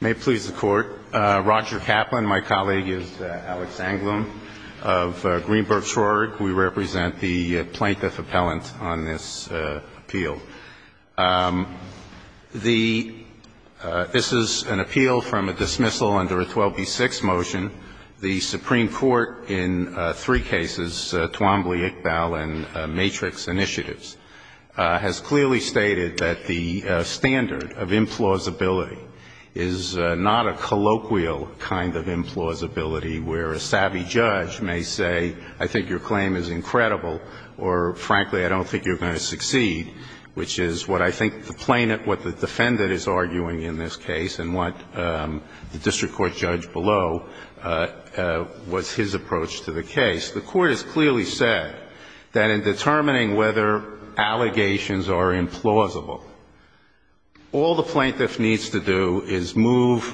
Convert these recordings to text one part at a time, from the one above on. May it please the Court. Roger Kaplan, my colleague, is Alex Anglum of Greenberg Shore. We represent the plaintiff appellant on this appeal. This is an appeal from a dismissal under a 12b-6 motion. The Supreme Court in three cases, Twombly, Iqbal, and Matrix Initiatives, has clearly stated that the standard of implausibility is not a colloquial kind of implausibility where a savvy judge may say, I think your claim is incredible, or, frankly, I don't think you're going to succeed, which is what I think the defendant is arguing in this case and what the district court judge below was his approach to the case. The court has clearly said that in determining whether allegations are implausible, all the plaintiff needs to do is move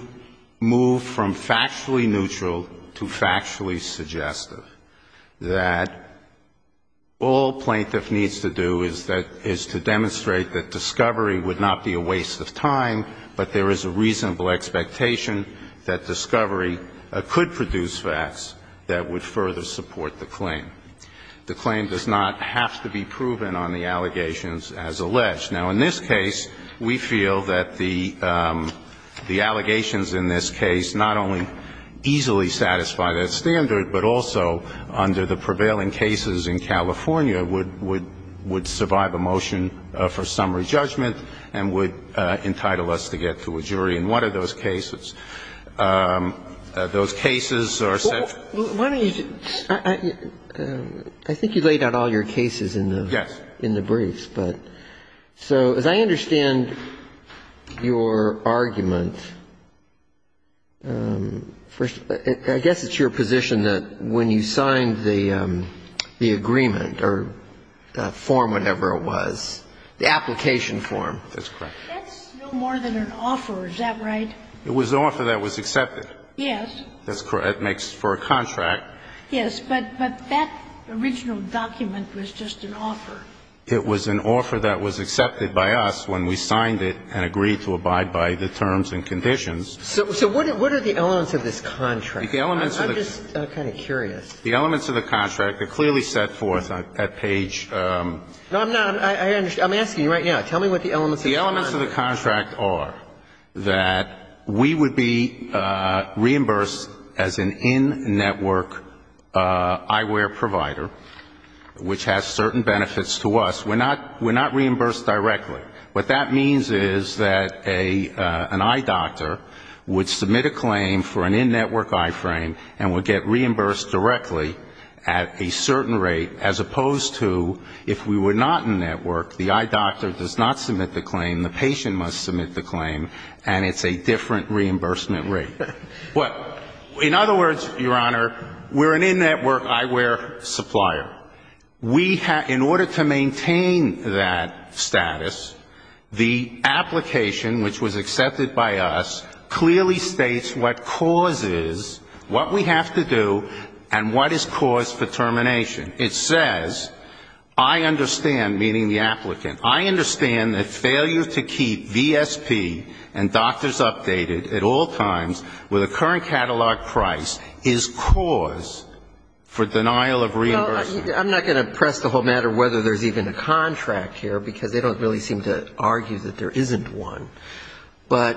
from factually neutral to factually suggestive, that all plaintiff needs to do is to demonstrate that discovery would not be a waste of time, but there is a reasonable expectation that discovery could produce facts that would further support the claim. The claim does not have to be proven on the allegations as alleged. Now, in this case, we feel that the allegations in this case not only easily satisfy that standard, but also under the prevailing cases in California would survive a motion for summary judgment and would entitle us to get to a jury in one of those cases. And I think that's what the court has said. I think you laid out all your cases in the briefs. Yes. So as I understand your argument, I guess it's your position that when you signed the agreement or the form, whatever it was, the application form. That's correct. That's no more than an offer, is that right? It was an offer that was accepted. Yes. That's correct. It makes for a contract. Yes. But that original document was just an offer. It was an offer that was accepted by us when we signed it and agreed to abide by the terms and conditions. So what are the elements of this contract? I'm just kind of curious. The elements of the contract are clearly set forth on that page. No, I'm not. I'm asking you right now. Tell me what the elements of the contract are. The elements of the contract are that we would be reimbursed as an in-network eyewear provider, which has certain benefits to us. We're not reimbursed directly. What that means is that an eye doctor would submit a claim for an in-network eye frame and would get reimbursed directly at a certain rate, as opposed to if we were not in-network, the eye doctor does not submit the claim, the patient must submit the claim, and it's a different reimbursement rate. In other words, Your Honor, we're an in-network eyewear supplier. In order to maintain that status, the application, which was accepted by us, clearly states what cause is, what we have to do, and what is cause for termination. It says, I understand, meaning the applicant, I understand that failure to keep VSP and doctors updated at all times with a current catalog price is cause for denial of reimbursement. Well, I'm not going to press the whole matter whether there's even a contract here, because they don't really seem to argue that there isn't one. But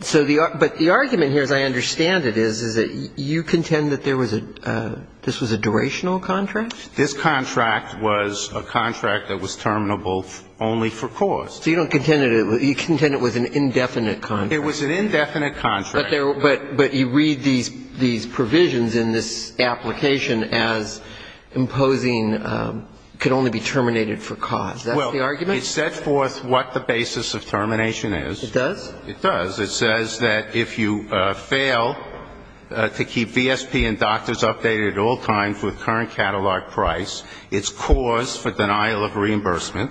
the argument here, as I understand it, is that you contend that there was a, this was a durational contract? This contract was a contract that was terminable only for cause. So you don't contend that it was, you contend it was an indefinite contract. It was an indefinite contract. But you read these provisions in this application as imposing, could only be terminated for cause. That's the argument? It set forth what the basis of termination is. It does? It does. It says that if you fail to keep VSP and doctors updated at all times with current catalog price, it's cause for denial of reimbursement.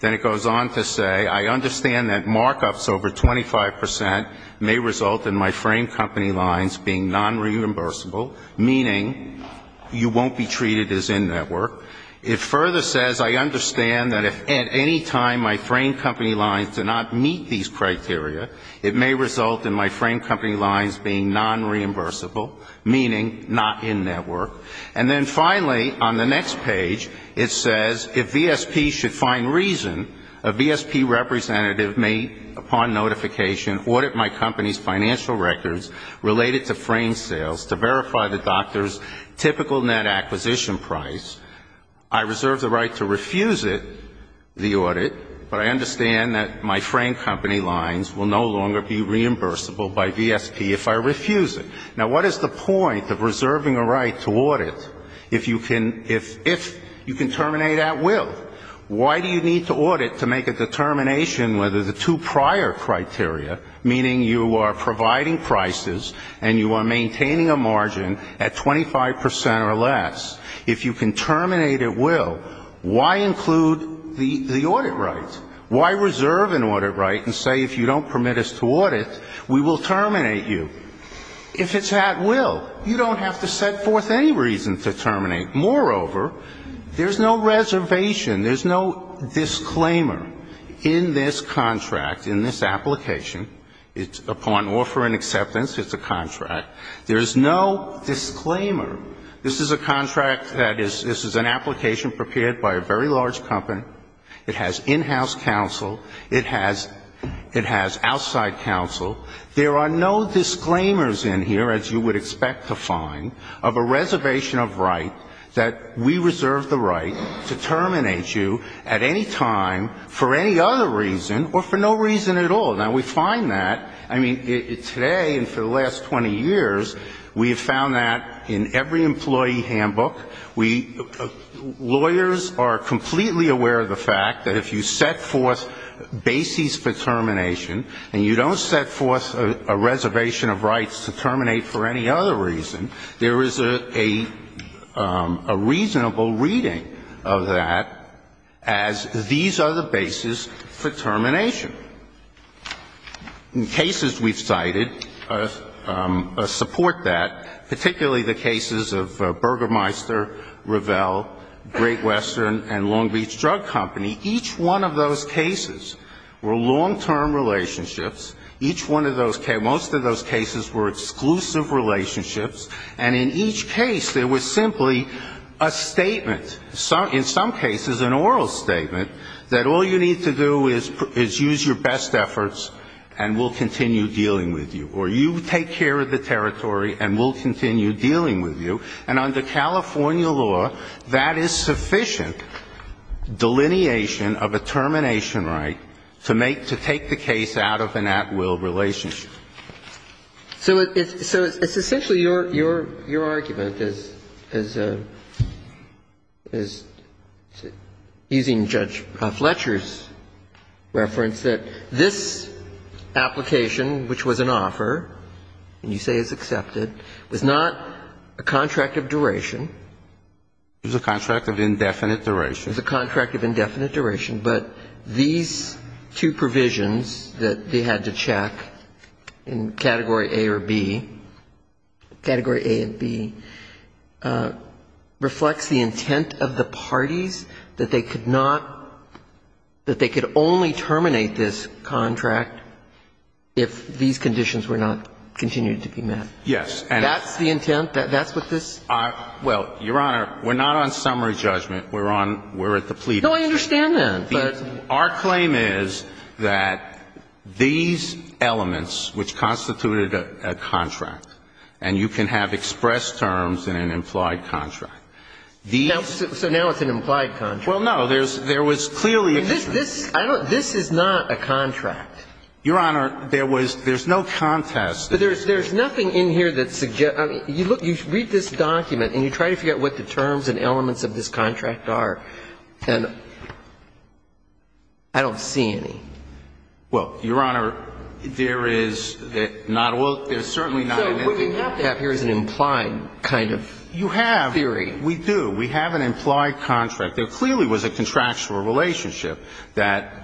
Then it goes on to say, I understand that markups over 25 percent may result in my frame company lines being nonreimbursable, meaning you won't be treated as in-network. It further says, I understand that if at any time my frame company lines do not meet these criteria, it may result in my frame company lines being nonreimbursable, meaning not in-network. And then finally, on the next page, it says, if VSP should find reason, a VSP representative may, upon notification, audit my company's financial records related to frame sales to verify the doctor's typical net acquisition price. I reserve the right to refuse it, the audit, but I understand that my frame company lines will no longer be reimbursable by VSP if I refuse it. Now, what is the point of reserving a right to audit if you can terminate at will? Why do you need to audit to make a determination whether the two prior criteria, meaning you are providing prices and you are maintaining a margin at 25 percent or less, if you can terminate at will, why include the audit right? Why reserve an audit right and say, if you don't permit us to audit, we will terminate you? If it's at will, you don't have to set forth any reason to terminate. Moreover, there's no reservation, there's no disclaimer in this contract, in this upon offer and acceptance, it's a contract, there's no disclaimer. This is a contract that is, this is an application prepared by a very large company, it has in-house counsel, it has outside counsel. There are no disclaimers in here, as you would expect to find, of a reservation of right that we reserve the right to terminate you at any time for any other reason or for no reason at all. Now, we find that, I mean, today and for the last 20 years, we have found that in every employee handbook, we, lawyers are completely aware of the fact that if you set forth bases for termination and you don't set forth a reservation of rights to terminate for any other reason, there is a reasonable reading of that as these are the bases for termination. Cases we've cited support that, particularly the cases of Burgermeister, Revell, Great Western, and Long Beach Drug Company, each one of those cases were long-term relationships, each one of those cases, most of those cases were exclusive relationships, and in each case there was simply a statement, in some cases an oral statement, that all you need to do is use your best efforts and we'll continue dealing with you, or you take care of the territory and we'll continue dealing with you. And under California law, that is sufficient delineation of a termination right to make, to take the case out of an at-will relationship. So it's essentially your argument is, is using Judge Fletcher's argument, is that the case of Burgermeister And I think it's important to note in this reference that this application, which was an offer, and you say it's accepted, was not a contract of duration. It was a contract of indefinite duration. It was a contract of indefinite duration. But these two provisions that they had to check in Category A or B, Category A and B, reflects the intent of the parties that they could only terminate this contract if these conditions were not continued to be met. That's the intent? That's what this? Well, Your Honor, we're not on summary judgment. We're on the pleading. No, I understand that. Our claim is that these elements, which constituted a contract, and you can have express terms in an implied contract, these So now it's an implied contract. Well, no, there was clearly a This is not a contract. Your Honor, there was, there's no contest. But there's nothing in here that suggests, I mean, you look, you read this document, and you try to forget what the terms and elements of this contract are, and I don't see any. Well, Your Honor, there is not, well, there's certainly not So what we have to have here is an implied kind of theory. You have, we do. We have an implied contract. There clearly was a contractual relationship that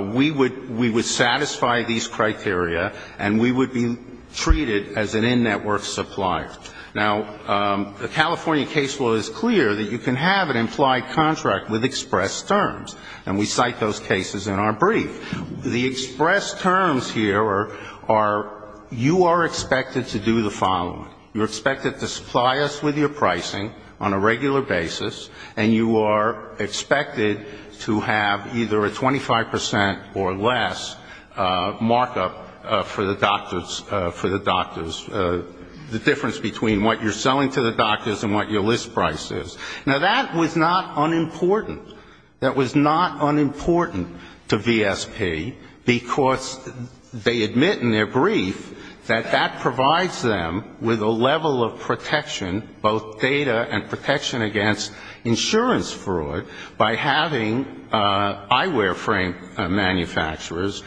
we would satisfy these criteria and we would be treated as an in-network supplier. Now, the California case law is clear that you can have an implied contract with express terms, and we cite those cases in our brief. The express terms here are, you are expected to do the following. You're expected to supply us with your pricing on a regular basis, and you are expected to have either a 25 percent or less markup for the doctors, the difference between what you're selling to the doctors and what your list price is. Now, that was not unimportant. That was not unimportant to VSP because they admit in their brief that that provides them with a level of protection, both data and protection against insurance fraud, by having eyewear frame manufacturers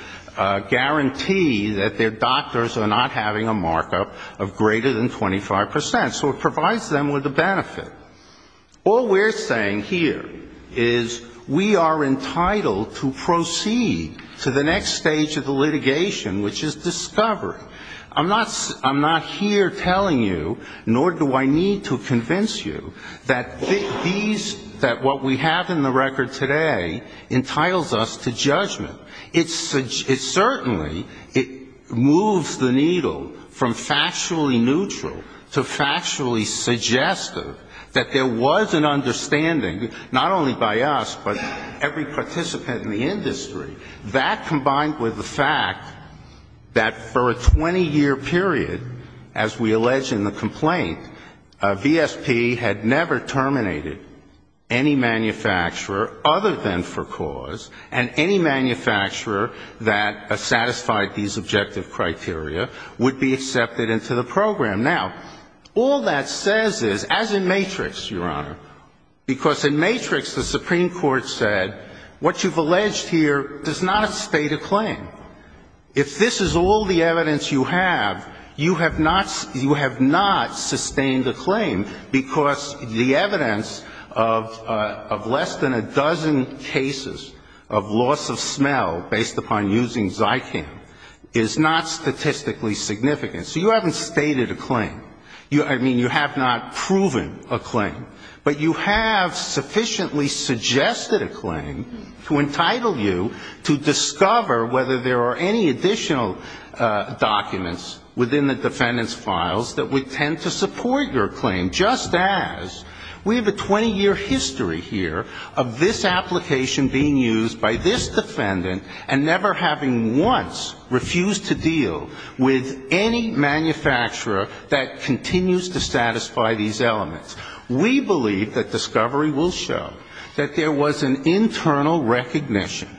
guarantee that their doctors are not having a markup of greater than 25 percent. So it provides them with a benefit. All we're saying here is we are entitled to proceed to the next stage of the litigation, which is discovery. I'm not here telling you, nor do I need to convince you, that these, that what we have in the record today entitles us to judgment. It certainly moves the needle from factually neutral to factually suggestive. That there was an understanding, not only by us, but every participant in the industry. That combined with the fact that for a 20-year period, as we allege in the complaint, VSP had never terminated any manufacturer other than for cause, and any manufacturer that satisfied these objective criteria would be accepted into the program. Now, all that says is, as in Matrix, Your Honor, because in Matrix the Supreme Court said what you've alleged here does not state a claim. If this is all the evidence you have, you have not sustained a claim, because the evidence of less than a dozen cases of loss of smell based upon using Zycam is not statistically significant. So you haven't stated a claim. I mean, you have not proven a claim. But you have sufficiently suggested a claim to entitle you to discover whether there are any additional documents within the defendant's files that would tend to support your claim, just as we have a 20-year history here of this application being used by this defendant and never having once refused to deal with any manufacturer that continues to satisfy these elements. We believe that discovery will show that there was an internal recognition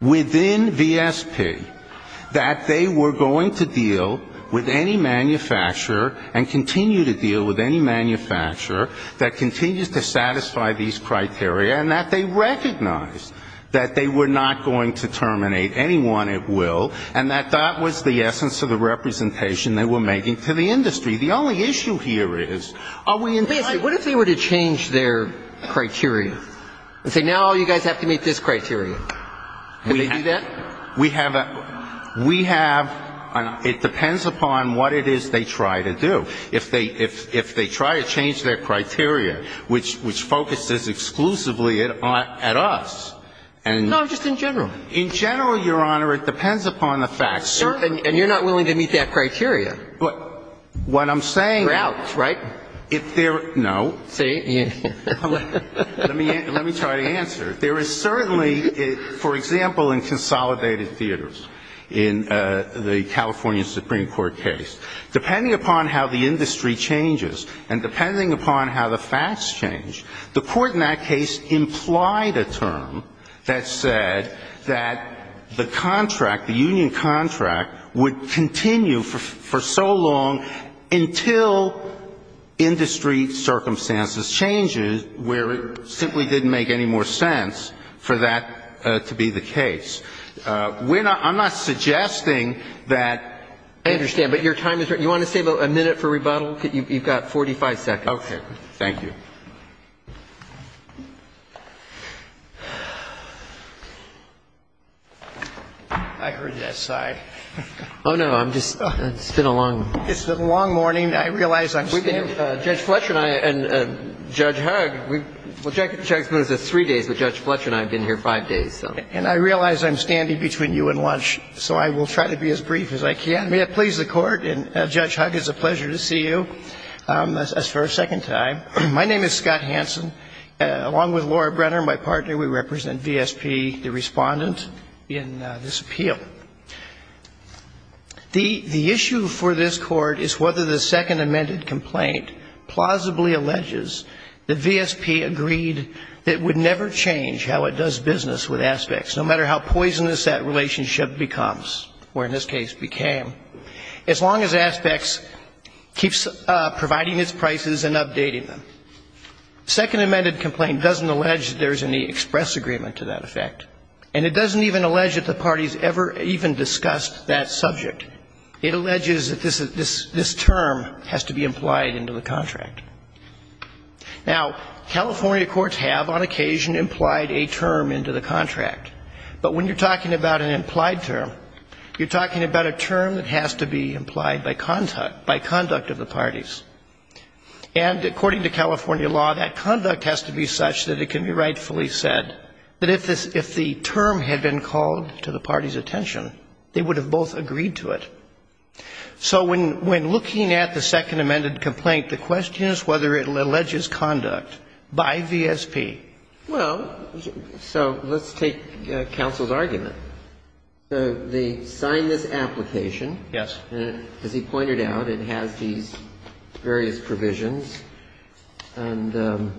within VSP that they were going to deal with any manufacturer and continue to deal with any manufacturer that would terminate anyone at will, and that that was the essence of the representation they were making to the industry. The only issue here is, are we entitled to do that? Wait a second. What if they were to change their criteria and say, no, you guys have to meet this criteria? Could they do that? We have a we have a it depends upon what it is they try to do. If they try to change their criteria, which focuses exclusively at us. No, just in general. In general, Your Honor, it depends upon the facts. And you're not willing to meet that criteria. But what I'm saying. You're out, right? No. See. Let me try to answer. There is certainly, for example, in consolidated theaters, in the California Supreme Court case, depending upon how the industry changes and depending upon how the facts change, the court in that case implied a term that said that the contract, the union contract, would continue for so long until industry circumstances changes where it simply didn't make any more sense for that to be the case. We're not I'm not suggesting that. I understand. But your time is right. You want to save a minute for rebuttal? You've got 45 seconds. Okay. Thank you. I heard that side. Oh, no. I'm just it's been a long. It's been a long morning. I realize I'm standing. Judge Fletcher and I and Judge Hugg. Well, Judge Smith has three days, but Judge Fletcher and I have been here five days. And I realize I'm standing between you and lunch. So I will try to be as brief as I can. May it please the Court. And Judge Hugg, it's a pleasure to see you. As for a second time, my name is Scott Hansen. Along with Laura Brenner, my partner, we represent VSP, the Respondent, in this appeal. The issue for this Court is whether the second amended complaint plausibly alleges that VSP agreed that it would never change how it does business with Aspects, no matter how poisonous that relationship becomes, or in this case became. As long as Aspects keeps providing its prices and updating them. Second amended complaint doesn't allege that there's any express agreement to that effect. And it doesn't even allege that the parties ever even discussed that subject. It alleges that this term has to be implied into the contract. Now, California courts have, on occasion, implied a term into the contract. But when you're talking about an implied term, you're talking about a term that has to be implied by conduct of the parties. And according to California law, that conduct has to be such that it can be rightfully said that if the term had been called to the party's attention, they would have both agreed to it. So when looking at the second amended complaint, the question is whether it alleges conduct by VSP. Well, so let's take counsel's argument. They signed this application. Yes. As he pointed out, it has these various provisions and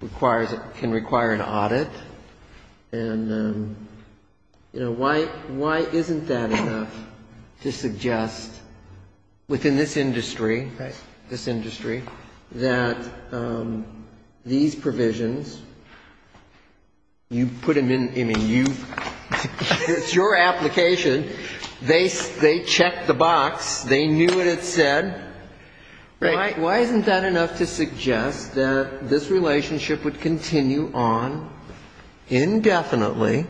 requires, can require an audit. And, you know, why, why isn't that enough to suggest within this industry, this industry, that these provisions, you put them in, I mean, you, it's your application. They checked the box. They knew what it said. Right. Why isn't that enough to suggest that this relationship would continue on indefinitely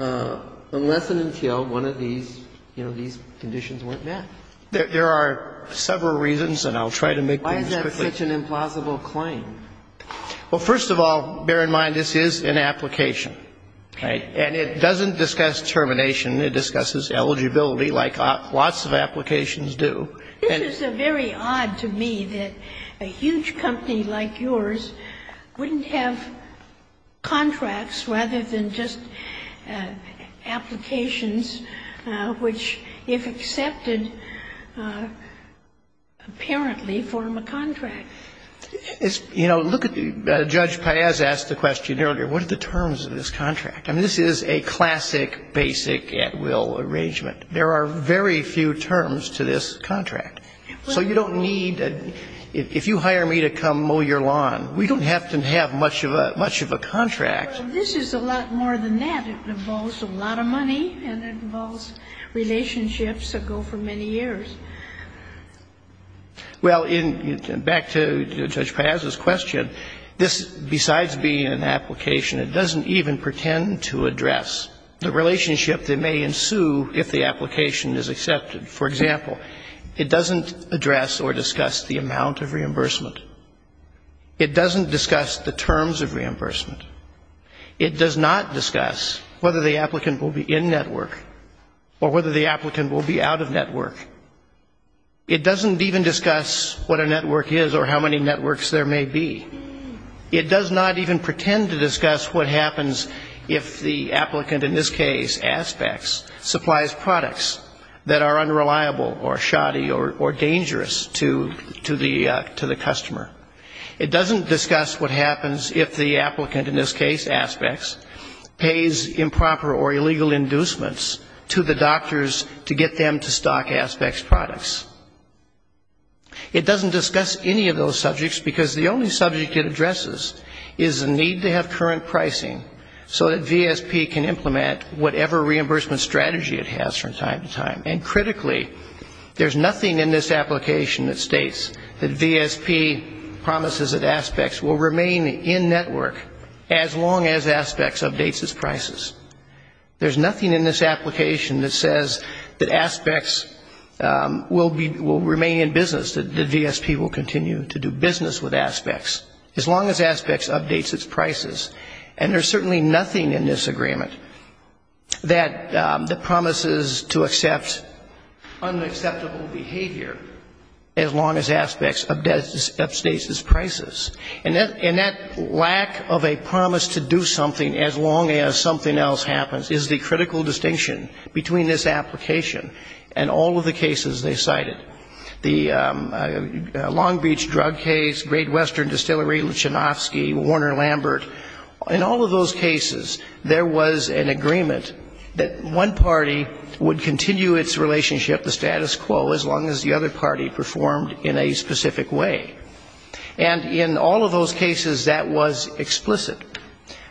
unless and until one of these, you know, these conditions weren't met? There are several reasons, and I'll try to make these quickly. Why is that such an implausible claim? Well, first of all, bear in mind this is an application. Right. And it doesn't discuss termination. It discusses eligibility like lots of applications do. This is very odd to me that a huge company like yours wouldn't have contracts rather than just applications which, if accepted, apparently form a contract. It's, you know, look at, Judge Paez asked the question earlier, what are the terms of this contract? I mean, this is a classic basic at-will arrangement. There are very few terms to this contract. So you don't need, if you hire me to come mow your lawn, we don't have to have much of a contract. Well, this is a lot more than that. It involves a lot of money, and it involves relationships that go for many years. Well, back to Judge Paez's question, this, besides being an application, it doesn't even pretend to address the relationship that may ensue if the application is accepted. For example, it doesn't address or discuss the amount of reimbursement. It doesn't discuss the terms of reimbursement. It does not discuss whether the applicant will be in-network or whether the applicant will be out-of-network. It doesn't even discuss what a network is or how many networks there may be. It does not even pretend to discuss what happens if the applicant, in this case, aspects, supplies products that are unreliable or shoddy or dangerous to the customer. It doesn't discuss what happens if the applicant, in this case, aspects, pays improper or illegal inducements to the doctors to get them to stock aspects products. It doesn't discuss any of those subjects, because the only subject it addresses is the need to have current pricing so that VSP can implement whatever reimbursement strategy it has from time to time. And critically, there's nothing in this application that states that VSP promises that aspects will remain in-network as long as aspects updates its prices. There's nothing in this application that says that aspects will remain in business, that VSP will continue to do business with aspects as long as aspects updates its prices. And there's certainly nothing in this agreement that promises to accept unacceptable behavior as long as aspects updates its prices. And that lack of a promise to do something as long as something else happens is the critical distinction between this application and all of the cases they cited. The Long Beach drug case, Great Western Distillery, Luchanovsky, Warner-Lambert, in all of those cases, there was an agreement that one party would continue its relationship, the status quo, as long as the other party performed in a specific way. And in all of those cases, that was explicit.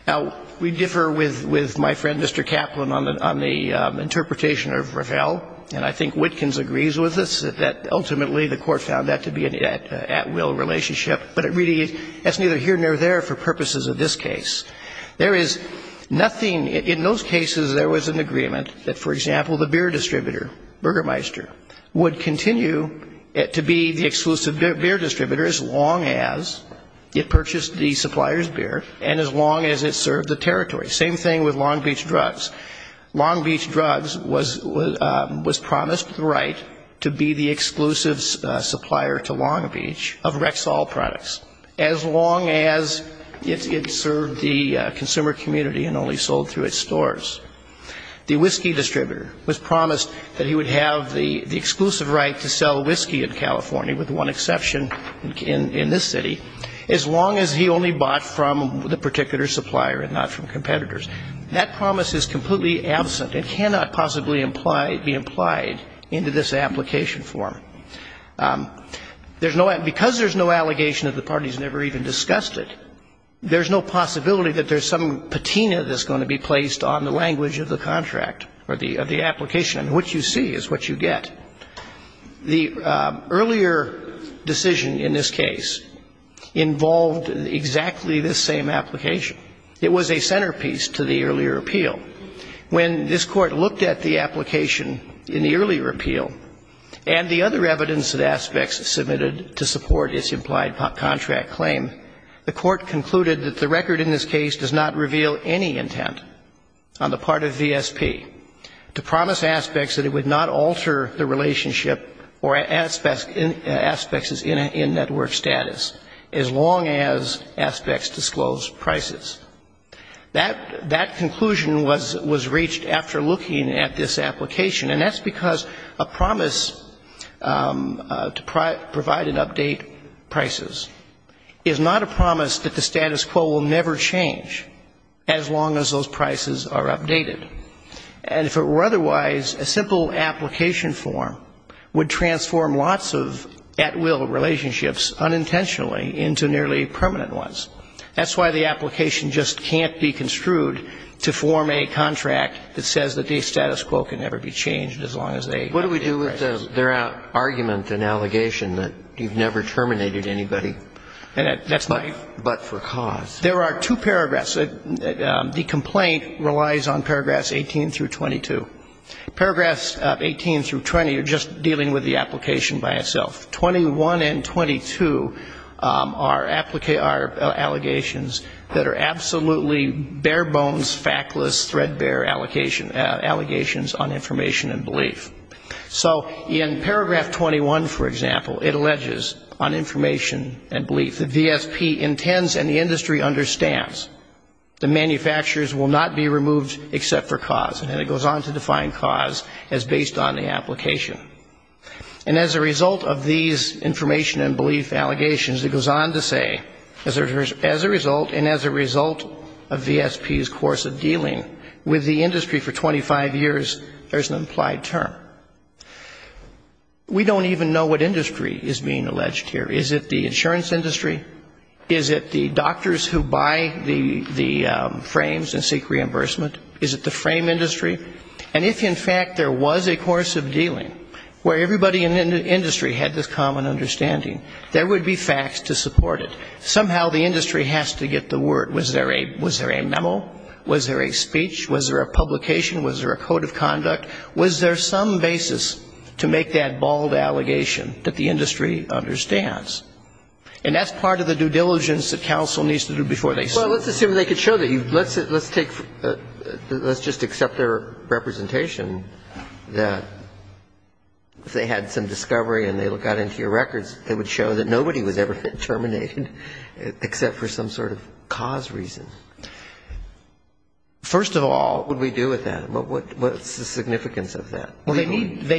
Now, we differ with my friend, Mr. Kaplan, on the interpretation of Ravel, and I believe that ultimately the court found that to be an at-will relationship, but it really, that's neither here nor there for purposes of this case. There is nothing, in those cases there was an agreement that, for example, the beer distributor, Burgermeister, would continue to be the exclusive beer distributor as long as it purchased the supplier's beer and as long as it served the territory. Same thing with Long Beach Drugs. Long Beach Drugs was promised the right to be the exclusive supplier to Long Beach of Rexall products, as long as it served the consumer community and only sold through its stores. The whiskey distributor was promised that he would have the exclusive right to sell whiskey in California, with one exception in this city, as long as he only bought from the particular supplier and not from competitors. That promise is completely absent and cannot possibly be implied into this application form. Because there's no allegation that the parties never even discussed it, there's no possibility that there's some patina that's going to be placed on the language of the contract or the application, and what you see is what you get. The earlier decision in this case involved exactly this same application. It was a centerpiece to the earlier appeal. When this Court looked at the application in the earlier appeal and the other evidence and aspects submitted to support its implied contract claim, the Court concluded that the record in this case does not reveal any intent on the part of VSP to promise aspects that it would not alter the relationship or aspects in network status, as long as aspects disclose prices. That conclusion was reached after looking at this application, and that's because a promise to provide and update prices is not a promise that the status quo will never change, as long as those prices are updated. And if it were otherwise, a simple application form would transform lots of at-will relationships unintentionally into nearly permanent ones. That's why the application just can't be construed to form a contract that says that the status quo can never be changed as long as they update prices. What do we do with the argument and allegation that you've never terminated anybody but for cause? There are two paragraphs. The complaint relies on paragraphs 18 through 22. Paragraphs 18 through 20 are just dealing with the application by itself. 21 and 22 are allegations that are absolutely bare bones, factless, threadbare allegations on information and belief. So in paragraph 21, for example, it alleges on information and belief that V.S.P. intends and the industry understands that manufacturers will not be removed except for cause, and it goes on to define cause as based on the application. And as a result of these information and belief allegations, it goes on to say, as a result and as a result of V.S.P.'s course of dealing with the industry for 25 years, there's an implied term. We don't even know what industry is being alleged here. Is it the insurance industry? Is it the doctors who buy the frames and seek reimbursement? Is it the frame industry? And if, in fact, there was a course of dealing where everybody in the industry had this common understanding, there would be facts to support it. Somehow the industry has to get the word. Was there a memo? Was there a speech? Was there a publication? Was there a code of conduct? Was there some basis to make that bald allegation that the industry understands? And that's part of the due diligence that counsel needs to do before they sue. Well, let's assume they could show that. Let's just accept their representation that if they had some discovery and they got into your records, it would show that nobody was ever terminated, except for some sort of cause reason. First of all What would we do with that? What's the significance of that? Well, they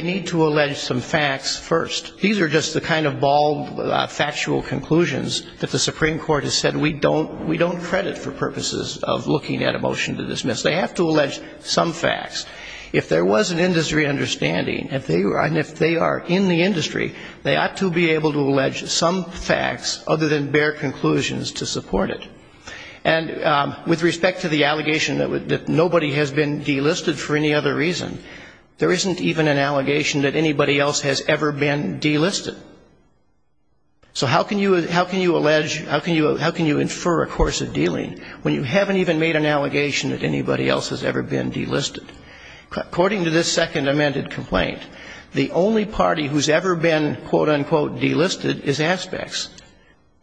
need to allege some facts first. These are just the kind of bald factual conclusions that the Supreme Court has said we don't credit for purposes of looking at a motion to dismiss. They have to allege some facts. If there was an industry understanding, and if they are in the industry, they ought to be able to allege some facts other than bare conclusions to support it. And with respect to the allegation that nobody has been delisted for any other reason, there isn't even an allegation that anybody else has ever been delisted. So how can you allege, how can you infer a course of dealing when you haven't even made an allegation? According to this second amended complaint, the only party who's ever been quote-unquote delisted is Aspects.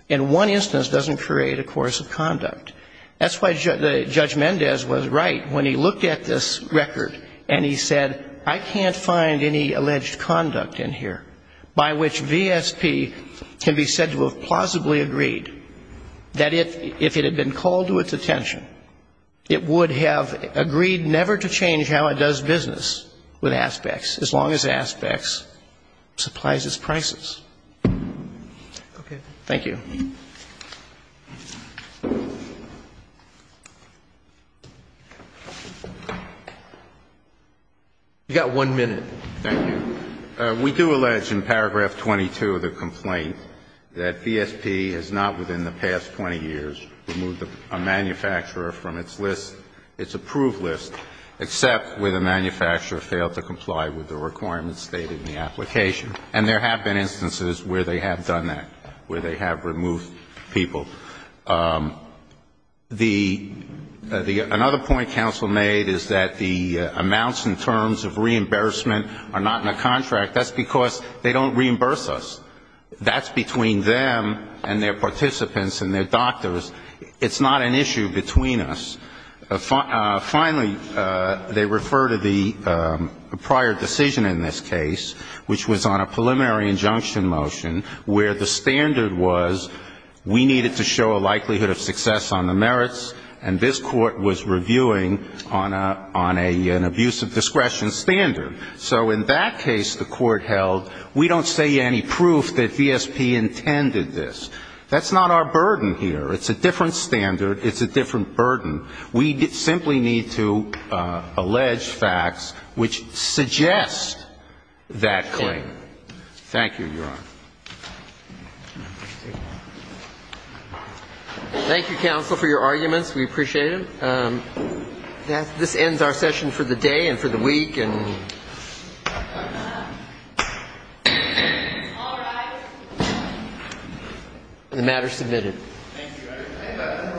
And one instance doesn't create a course of conduct. That's why Judge Mendez was right when he looked at this record and he said, I can't find any alleged conduct in here by which VSP can be said to have plausibly agreed that if it had been called to its attention, it would have agreed never to change how its company does business with Aspects, as long as Aspects supplies its prices. Thank you. You've got one minute. Thank you. We do allege in paragraph 22 of the complaint that VSP has not within the past 20 years removed a manufacturer from its list, its approved list, except where the manufacturer failed to comply with the requirements stated in the application. And there have been instances where they have done that, where they have removed people. The other point counsel made is that the amounts in terms of reimbursement are not in the contract. That's because they don't reimburse us. That's between them and their participants and their doctors. It's not an issue between us. Finally, they refer to the prior decision in this case, which was on a preliminary injunction motion where the standard was we needed to show a likelihood of success on the merits, and this Court was reviewing on an abuse of discretion standard. So in that case the Court held, we don't see any proof that VSP intended this. It's not our burden here. It's a different standard. It's a different burden. We simply need to allege facts which suggest that claim. Thank you, Your Honor. Thank you, counsel, for your arguments. We appreciate them. This ends our session for the day and for the week. All rise. The matter is submitted.